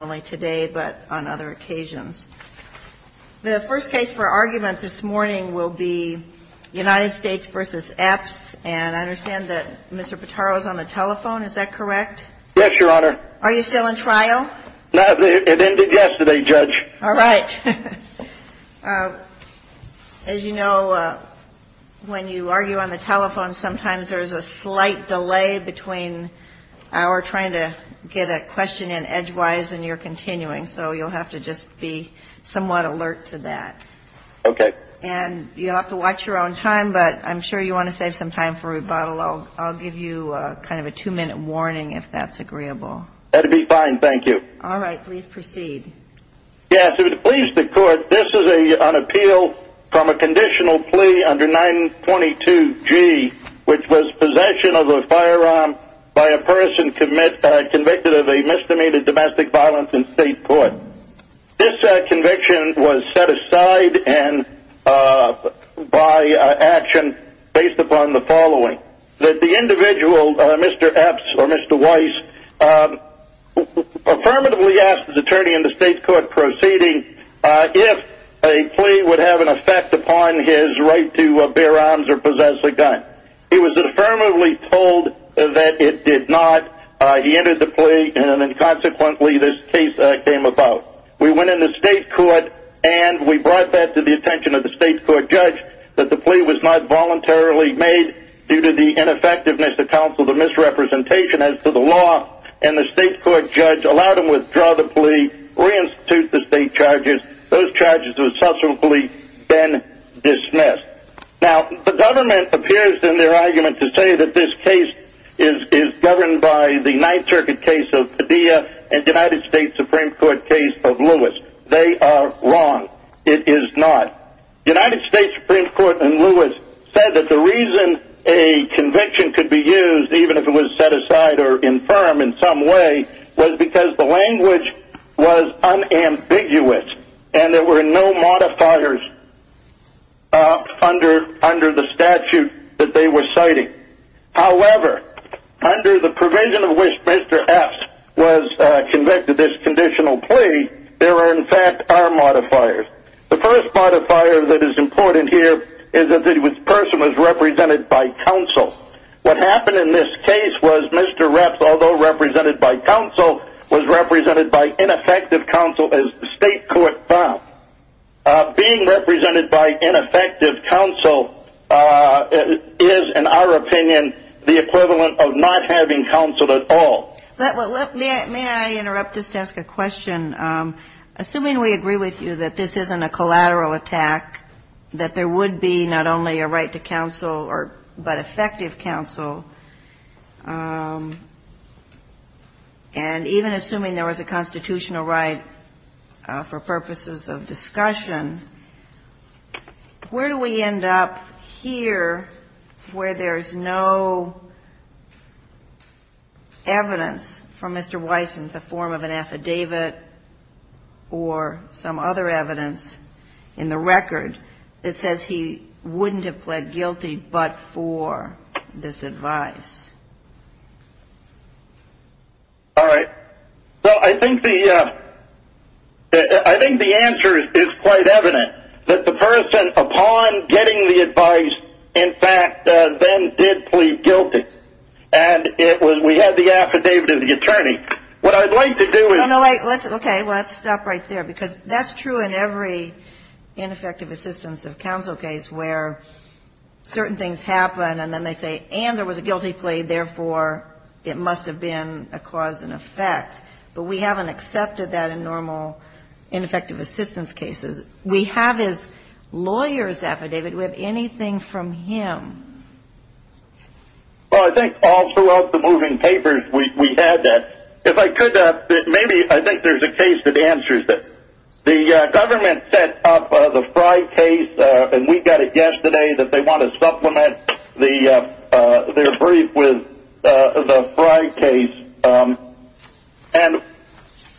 and I understand that Mr. Pitaro is on the telephone, is that correct? Yes, Your Honor. Are you still in trial? No, it ended yesterday, Judge. All right. As you know, when you argue on the telephone, sometimes there is a slight delay between our trying to get a question in edgewise and your trying to get a question in edgewise. So you'll have to just be somewhat alert to that. Okay. And you'll have to watch your own time, but I'm sure you want to save some time for rebuttal. I'll give you kind of a two-minute warning if that's agreeable. That would be fine, thank you. All right. Please proceed. Yes. If you would please the court, this is an appeal from a conditional plea under 922G, which was possession of a firearm by a person convicted of a misdemeanor domestic violence in state court. This conviction was set aside by action based upon the following. That the individual, Mr. Epps or Mr. Weiss, affirmatively asked his attorney in the state court proceeding if a plea would have an effect upon his right to bear arms or possess a gun. He was affirmatively told that it did not. He entered the plea, and then consequently this case came about. We went into state court, and we brought that to the attention of the state court judge that the plea was not voluntarily made due to the ineffectiveness of counsel, the misrepresentation as to the law. And the state court judge allowed him to withdraw the plea, reinstitute the state charges. Those charges were subsequently then dismissed. Now, the government appears in their argument to say that this case is governed by the Ninth Circuit case of Padilla and United States Supreme Court case of Lewis. They are wrong. It is not. United States Supreme Court in Lewis said that the reason a conviction could be used, even if it was set aside or infirm in some way, was because the language was unambiguous. And there were no modifiers under the statute that they were citing. However, under the provision of which Mr. Epps was convicted of this conditional plea, there are in fact are modifiers. The first modifier that is important here is that the person was represented by counsel. What happened in this case was Mr. Epps, although represented by counsel, was represented by ineffective counsel as the state court found. Being represented by ineffective counsel is, in our opinion, the equivalent of not having counsel at all. May I interrupt just to ask a question? Assuming we agree with you that this isn't a collateral attack, that there would be not only a right to counsel or but effective counsel, and even assuming there was a constitutional right for purposes of discussion, where do we end up here where there is no evidence from Mr. Weiss in the form of an affidavit or some other evidence in the record that says he wouldn't have pled guilty but for this advice? All right. Well, I think the answer is quite evident, that the person, upon getting the advice, in fact, then did plead guilty. And we had the affidavit of the attorney. What I'd like to do is ---- No, no, wait. Okay, let's stop right there because that's true in every ineffective assistance of counsel case where certain things happen and then they say, and there was a guilty plea, therefore it must have been a cause and effect. But we haven't accepted that in normal ineffective assistance cases. We have his lawyer's affidavit. Do we have anything from him? Well, I think all throughout the moving papers we had that. If I could, maybe I think there's a case that answers this. The government set up the Frye case, and we got a guess today that they want to supplement their brief with the Frye case. And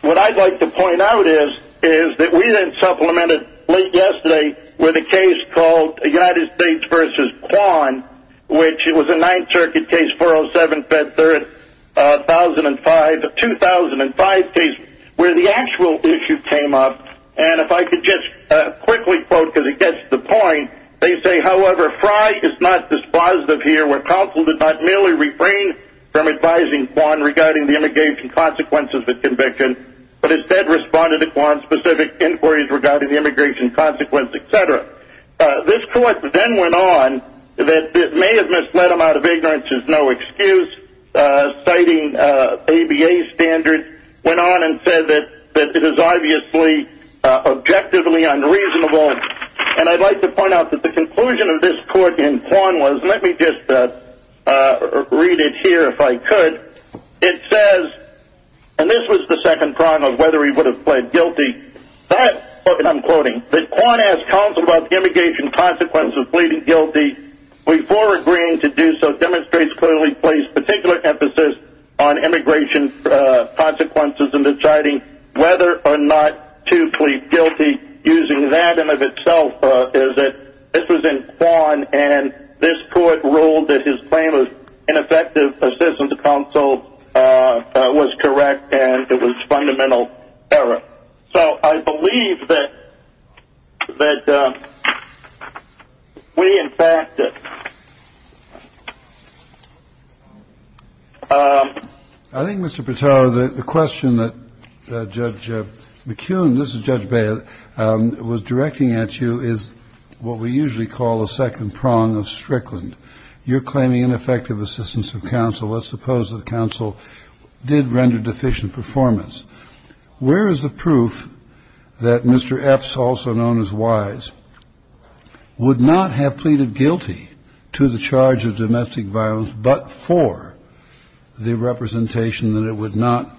what I'd like to point out is that we then supplemented late yesterday with a case called United States v. Kwan, which was a Ninth Circuit case, 407, Fed Third, 2005 case, where the actual issue came up. And if I could just quickly quote because it gets to the point, they say, however, Frye is not dispositive here where counsel did not merely refrain from advising Kwan regarding the immigration consequences of the conviction, but instead responded to Kwan's specific inquiries regarding the immigration consequences, et cetera. This court then went on that it may have misled him out of ignorance is no excuse, citing ABA standards, went on and said that it is obviously objectively unreasonable. And I'd like to point out that the conclusion of this court in Kwan was, let me just read it here if I could. It says, and this was the second prong of whether he would have pled guilty, that, and I'm quoting, that Kwan asked counsel about the immigration consequences of pleading guilty before agreeing to do so demonstrates clearly placed particular emphasis on immigration consequences and deciding whether or not to plead guilty using that in and of itself is that this was in Kwan and this court ruled that his claim of ineffective assistance to counsel was correct and it was fundamental error. So I believe that we in fact. I think, Mr. Pato, the question that Judge McCune, this is Judge Bailiff, was directing at you is what we usually call a second prong of Strickland. You're claiming ineffective assistance of counsel. Let's suppose that counsel did render deficient performance. Where is the proof that Mr. Epps, also known as Wise, would not have pleaded guilty to the charge of domestic violence, but for the representation that it would not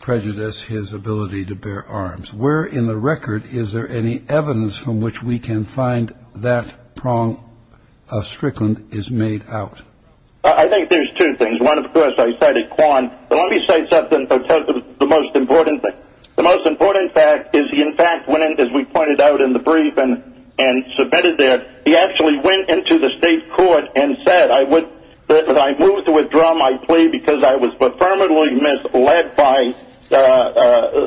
prejudice his ability to bear arms? Where in the record is there any evidence from which we can find that prong of Strickland is made out? I think there's two things. One, of course, I said at Kwan, but let me say something that's the most important thing. The most important fact is he in fact went in, as we pointed out in the brief and submitted there, he actually went into the state court and said, I move to withdraw my plea because I was affirmatively misled by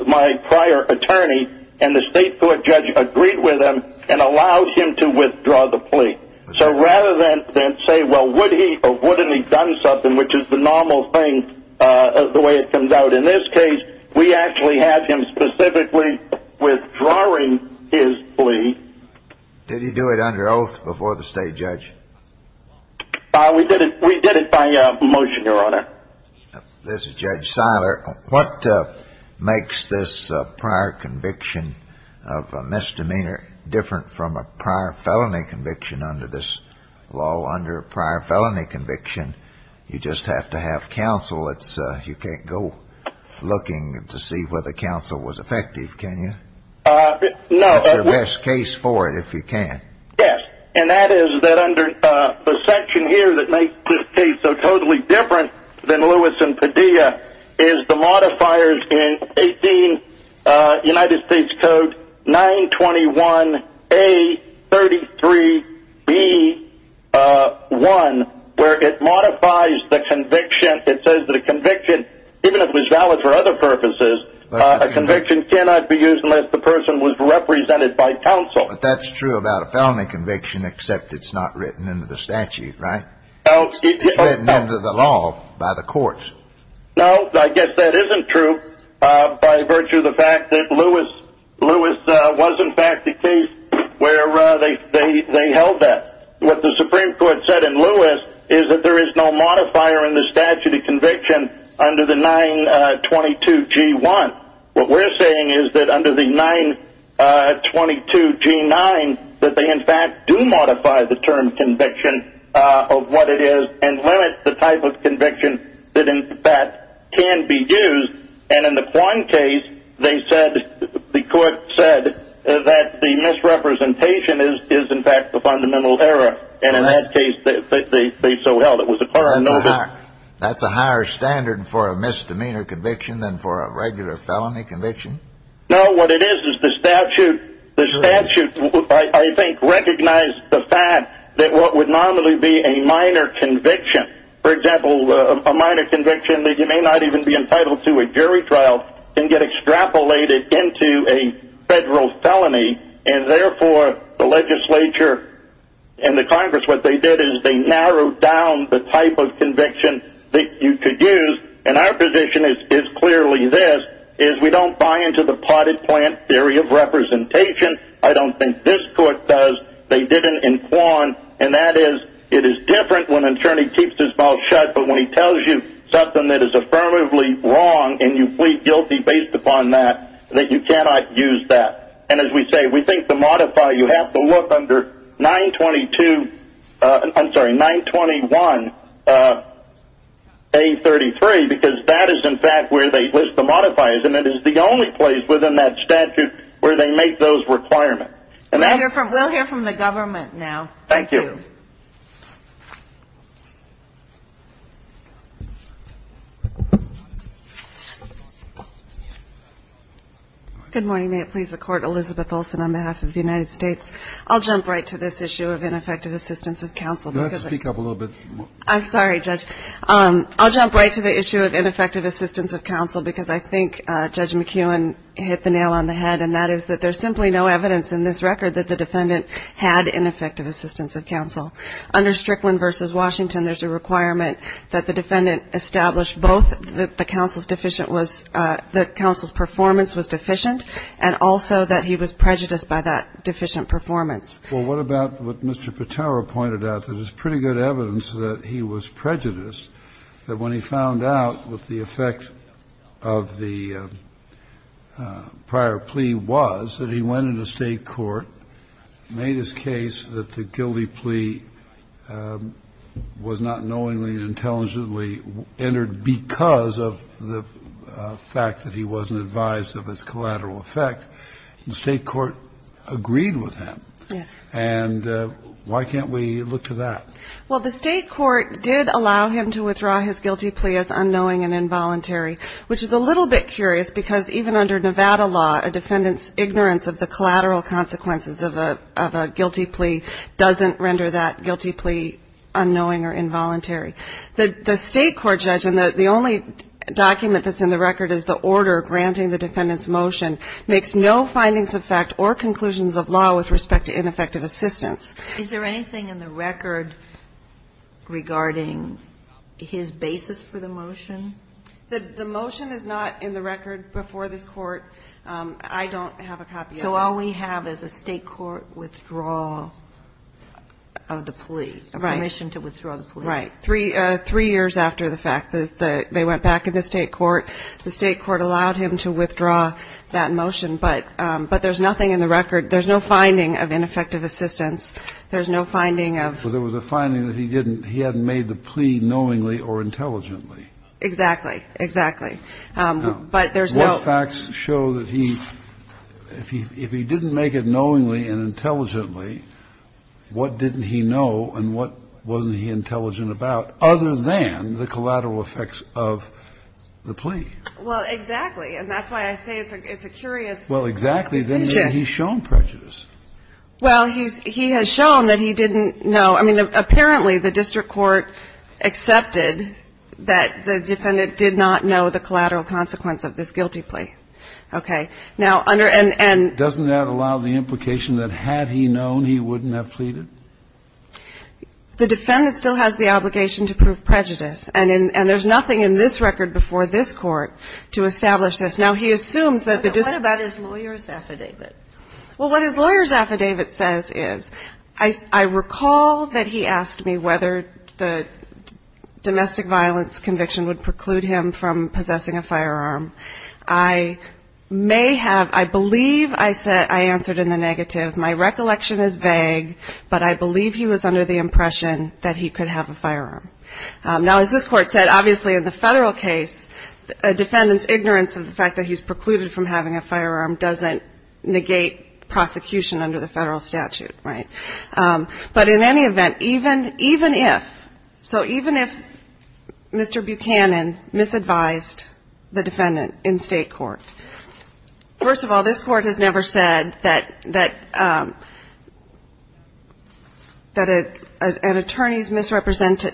my prior attorney, and the state court judge agreed with him and allowed him to withdraw the plea. So rather than say, well, would he or wouldn't he have done something, which is the normal thing the way it comes out in this case, we actually had him specifically withdrawing his plea. Did he do it under oath before the state judge? We did it by motion, Your Honor. This is Judge Seiler. What makes this prior conviction of a misdemeanor different from a prior felony conviction under this law? Under a prior felony conviction, you just have to have counsel. You can't go looking to see whether counsel was effective, can you? It's the best case for it if you can. Yes, and that is that under the section here that makes this case so totally different than Lewis and Padilla is the modifiers in 18 United States Code 921A33B1, where it modifies the conviction. It says that a conviction, even if it was valid for other purposes, a conviction cannot be used unless the person was represented by counsel. But that's true about a felony conviction except it's not written into the statute, right? It's written into the law by the courts. No, I guess that isn't true by virtue of the fact that Lewis was, in fact, the case where they held that. What the Supreme Court said in Lewis is that there is no modifier in the statute of conviction under the 922G1. What we're saying is that under the 922G9, that they, in fact, do modify the term conviction of what it is and limit the type of conviction that, in fact, can be used. And in the Quine case, they said, the court said, that the misrepresentation is, in fact, the fundamental error. And in that case, they so held it was a clear and noble. That's a higher standard for a misdemeanor conviction than for a regular felony conviction? No, what it is is the statute, I think, recognized the fact that what would normally be a minor conviction, for example, a minor conviction that you may not even be entitled to a jury trial, can get extrapolated into a federal felony. And therefore, the legislature and the Congress, what they did is they narrowed down the type of conviction that you could use. And our position is clearly this, is we don't buy into the potted plant theory of representation. I don't think this court does. They did it in Quine. And that is, it is different when an attorney keeps his mouth shut, but when he tells you something that is affirmatively wrong and you plead guilty based upon that, that you cannot use that. And as we say, we think the modifier, you have to look under 922, I'm sorry, 921A33, because that is, in fact, where they list the modifiers. And it is the only place within that statute where they make those requirements. We'll hear from the government now. Thank you. Good morning. May it please the Court. Elizabeth Olson on behalf of the United States. I'll jump right to this issue of ineffective assistance of counsel. Speak up a little bit. I'm sorry, Judge. I'll jump right to the issue of ineffective assistance of counsel because I think Judge McEwen hit the nail on the head, and that is that there's simply no evidence in this record that the defendant had ineffective assistance of counsel. Under Strickland v. Washington, there's a requirement that the defendant establish both that the counsel's deficient was the counsel's performance was deficient, and also that he was prejudiced by that deficient performance. Well, what about what Mr. Patero pointed out, that there's pretty good evidence that he was prejudiced, that when he found out what the effect of the prior plea was, that he went into state court, made his case that the guilty plea was not knowingly and intelligently entered because of the fact that he wasn't advised of its collateral effect. The state court agreed with him. And why can't we look to that? Well, the state court did allow him to withdraw his guilty plea as unknowing and involuntary, which is a little bit curious because even under Nevada law, a defendant's ignorance of the collateral consequences of a guilty plea doesn't render that guilty plea unknowing or involuntary. The state court judge, and the only document that's in the record is the order granting the defendant's motion, makes no findings of fact or conclusions of law with respect to ineffective assistance. Is there anything in the record regarding his basis for the motion? The motion is not in the record before this Court. I don't have a copy of it. So all we have is a state court withdrawal of the plea. Right. Permission to withdraw the plea. Right. Three years after the fact, they went back into state court. The state court allowed him to withdraw that motion. But there's nothing in the record. There's no finding of ineffective assistance. There's no finding of ---- Well, there was a finding that he didn't he hadn't made the plea knowingly or intelligently. Exactly. Exactly. But there's no ---- What facts show that he ---- if he didn't make it knowingly and intelligently, what didn't he know and what wasn't he intelligent about other than the collateral effects of the plea? Well, exactly. And that's why I say it's a curious decision. Well, exactly. Then he's shown prejudice. Well, he's ---- he has shown that he didn't know. I mean, apparently the district court accepted that the defendant did not know the collateral consequence of this guilty plea. Okay. Now, under and ---- Doesn't that allow the implication that had he known, he wouldn't have pleaded? The defendant still has the obligation to prove prejudice. And in ---- and there's nothing in this record before this Court to establish this. Now, he assumes that the district ---- What about his lawyer's affidavit? Well, what his lawyer's affidavit says is, I recall that he asked me whether the domestic violence conviction would preclude him from possessing a firearm. I may have ---- I believe I said ---- I answered in the negative. My recollection is vague, but I believe he was under the impression that he could have a firearm. Now, as this Court said, obviously in the federal case, a defendant's presumption that he was precluded from having a firearm doesn't negate prosecution under the federal statute, right? But in any event, even if ---- so even if Mr. Buchanan misadvised the defendant in state court, first of all, this Court has never said that an attorney's misrepresentation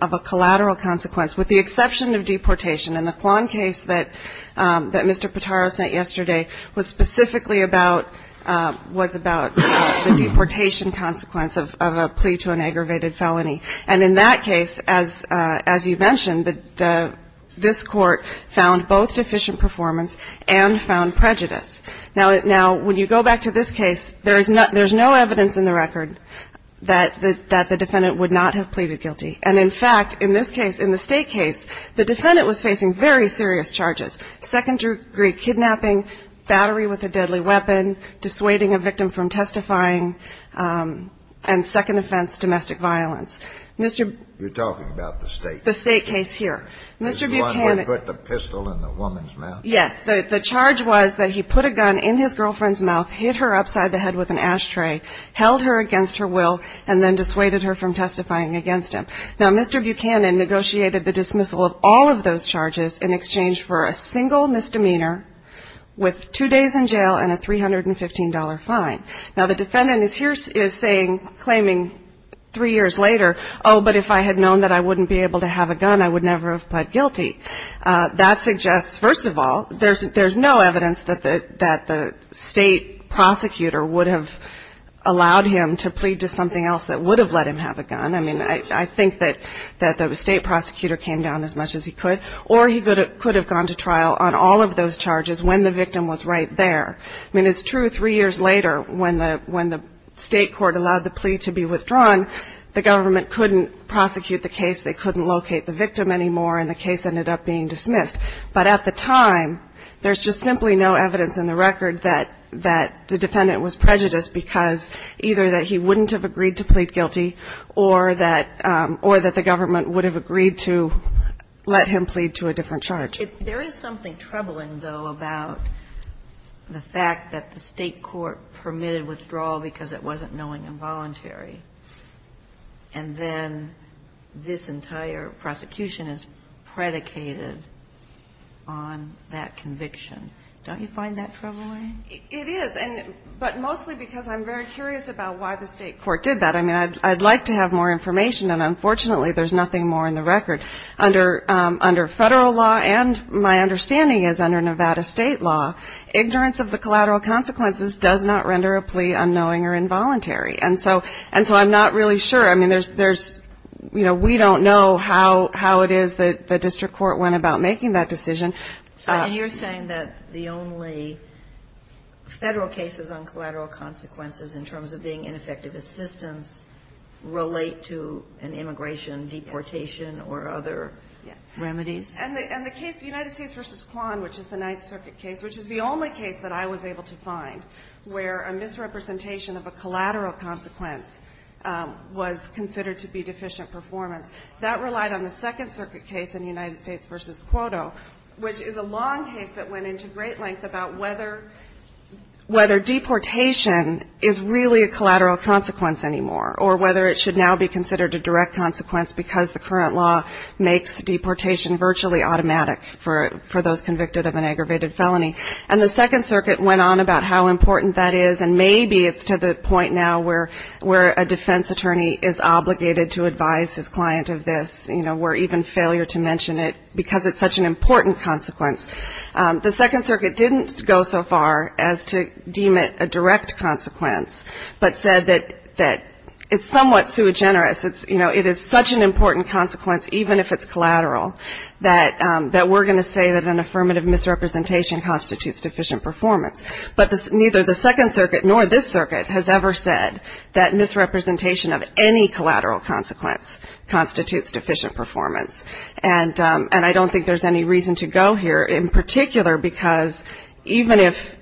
of a collateral consequence, with the exception of deportation. And the Kwan case that Mr. Potaro sent yesterday was specifically about ---- was about the deportation consequence of a plea to an aggravated felony. And in that case, as you mentioned, this Court found both deficient performance and found prejudice. Now, when you go back to this case, there's no evidence in the record that the defendant would not have pleaded guilty. And in fact, in this case, in the State case, the defendant was facing very serious charges, second-degree kidnapping, battery with a deadly weapon, dissuading a victim from testifying, and second offense, domestic violence. Mr. ---- You're talking about the State case. The State case here. Mr. Buchanan ---- The one where he put the pistol in the woman's mouth. Yes. The charge was that he put a gun in his girlfriend's mouth, hit her upside the head with an ashtray, held her against her will, and then dissuaded her from testifying against him. Now, Mr. Buchanan negotiated the dismissal of all of those charges in exchange for a single misdemeanor with two days in jail and a $315 fine. Now, the defendant is here is saying, claiming three years later, oh, but if I had known that I wouldn't be able to have a gun, I would never have pled guilty. That suggests, first of all, there's no evidence that the State prosecutor would have allowed him to plead to something else that would have let him have a gun. I mean, I think that the State prosecutor came down as much as he could, or he could have gone to trial on all of those charges when the victim was right there. I mean, it's true three years later, when the State court allowed the plea to be withdrawn, the government couldn't prosecute the case, they couldn't locate the victim anymore, and the case ended up being dismissed. But at the time, there's just simply no evidence in the record that the defendant was prejudiced because either that he wouldn't have agreed to plead guilty or that the government would have agreed to let him plead to a different charge. If there is something troubling, though, about the fact that the State court permitted withdrawal because it wasn't knowing involuntary, and then this entire prosecution is predicated on that conviction, don't you find that troubling? It is. But mostly because I'm very curious about why the State court did that. I mean, I'd like to have more information, and unfortunately, there's nothing more in the record. Under Federal law, and my understanding is under Nevada State law, ignorance of the collateral consequences does not render a plea unknowing or involuntary. And so I'm not really sure. I mean, there's, you know, we don't know how it is that the district court went about making that decision. And you're saying that the only Federal cases on collateral consequences in terms of being ineffective assistance relate to an immigration deportation or other remedies? And the case, the United States v. Kwan, which is the Ninth Circuit case, which is the only case that I was able to find where a misrepresentation of a collateral consequence was considered to be deficient performance, that relied on the Second Circuit case in the United States v. Cuoto, which is a long case that went into great length about whether deportation is really a collateral consequence anymore, or whether it should now be considered a direct consequence because the current law makes deportation virtually automatic for those convicted of an aggravated felony. And the Second Circuit went on about how important that is, and maybe it's to the point now where a defense attorney is obligated to advise his client of this, you know, or even failure to mention it because it's such an important consequence. The Second Circuit didn't go so far as to deem it a direct consequence, but said that it's somewhat sui generis. You know, it is such an important consequence, even if it's collateral, that we're going to say that an affirmative misrepresentation constitutes deficient performance. But neither the Second Circuit nor this circuit has ever said that misrepresentation of any collateral consequence constitutes deficient performance. And I don't think there's any reason to go here, in particular because even if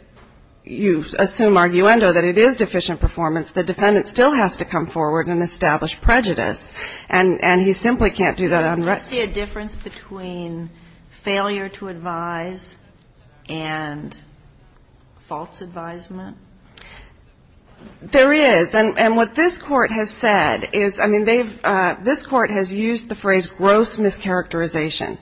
you assume arguendo that it is deficient performance, the defendant still has to come forward and establish prejudice. And he simply can't do that unrestricted. Kagan. Do you see a difference between failure to advise and false advisement? There is. And what this court has said is, I mean, this court has used the phrase gross mischaracterization.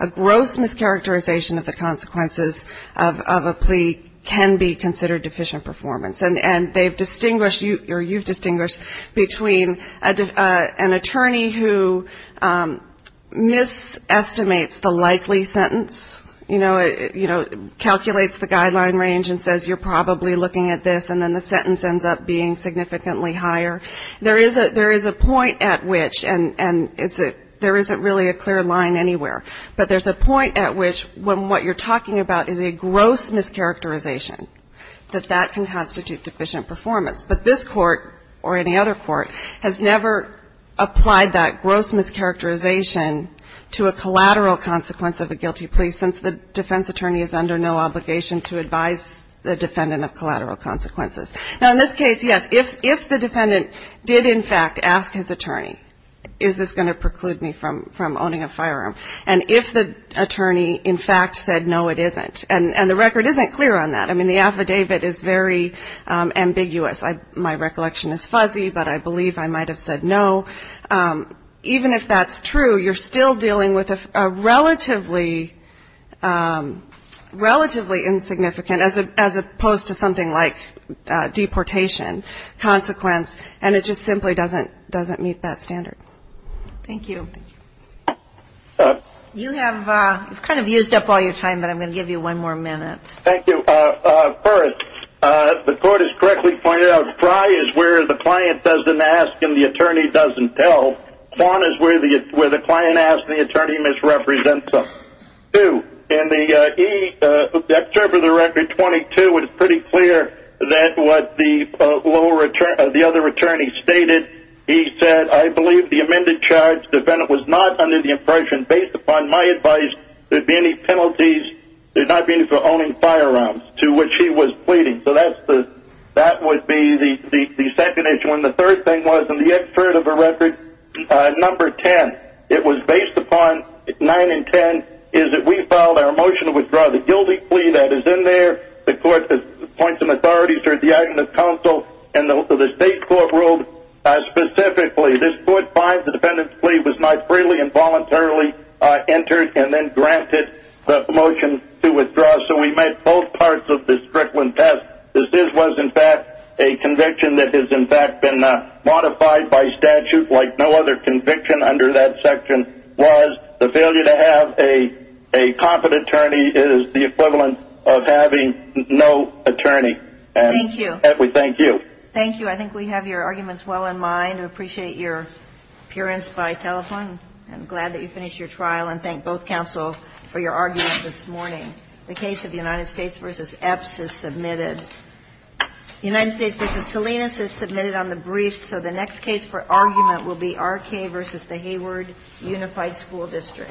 A gross mischaracterization of the consequences of a plea can be considered deficient performance. And they've distinguished, or you've distinguished, between an attorney who misestimates the likely sentence, you know, calculates the guideline range and says you're probably looking at this, and then the sentence ends up being significantly higher. There is a point at which, and there isn't really a clear line anywhere, but there's a point at which when what you're talking about is a gross mischaracterization, that that can constitute deficient performance. But this court, or any other court, has never applied that gross mischaracterization to a collateral consequence of a guilty plea, since the defense attorney is under no obligation to advise the defendant of collateral consequences. Now, in this case, yes, if the defendant did, in fact, ask his attorney, is this going to preclude me from owning a firearm, and if the attorney, in fact, said no, it isn't, and the record isn't clear on that. I mean, the affidavit is very ambiguous. My recollection is fuzzy, but I believe I might have said no. Even if that's true, you're still dealing with a relatively, relatively insignificant, as opposed to something like deportation consequence, and it just simply doesn't meet that standard. Thank you. You have kind of used up all your time, but I'm going to give you one more minute. Thank you. First, the court has correctly pointed out, fry is where the client doesn't ask and the attorney doesn't tell. Quant is where the client asks and the attorney misrepresents them. Two, in the excerpt of the record, 22, it's pretty clear that what the other attorney stated, he said, I believe the amended charge, the defendant was not under the impression, based upon my advice, there'd be any penalties, there'd not be any for owning firearms, to which he was pleading. So that would be the second issue. And the third thing was, in the excerpt of the record, number 10, it was based upon, 9 and 10, is that we filed our motion to withdraw. The guilty plea that is in there, the court appoints an authority through the item of counsel, and the state court ruled specifically, this court finds the defendant's plea was not freely and voluntarily entered, and then granted the motion to withdraw. So we met both parts of the Strickland test. This was, in fact, a conviction that has, in fact, been modified by statute like no other conviction under that section, was the failure to have a competent attorney is the equivalent of having no attorney. And we thank you. Thank you. I think we have your arguments well in mind. I appreciate your appearance by telephone. I'm glad that you finished your trial, and thank both counsel for your arguments this morning. The case of United States v. Epps is submitted. United States v. Salinas is submitted on the briefs, so the next case for argument will be R.K. v. Hayward Unified School District. Thank you.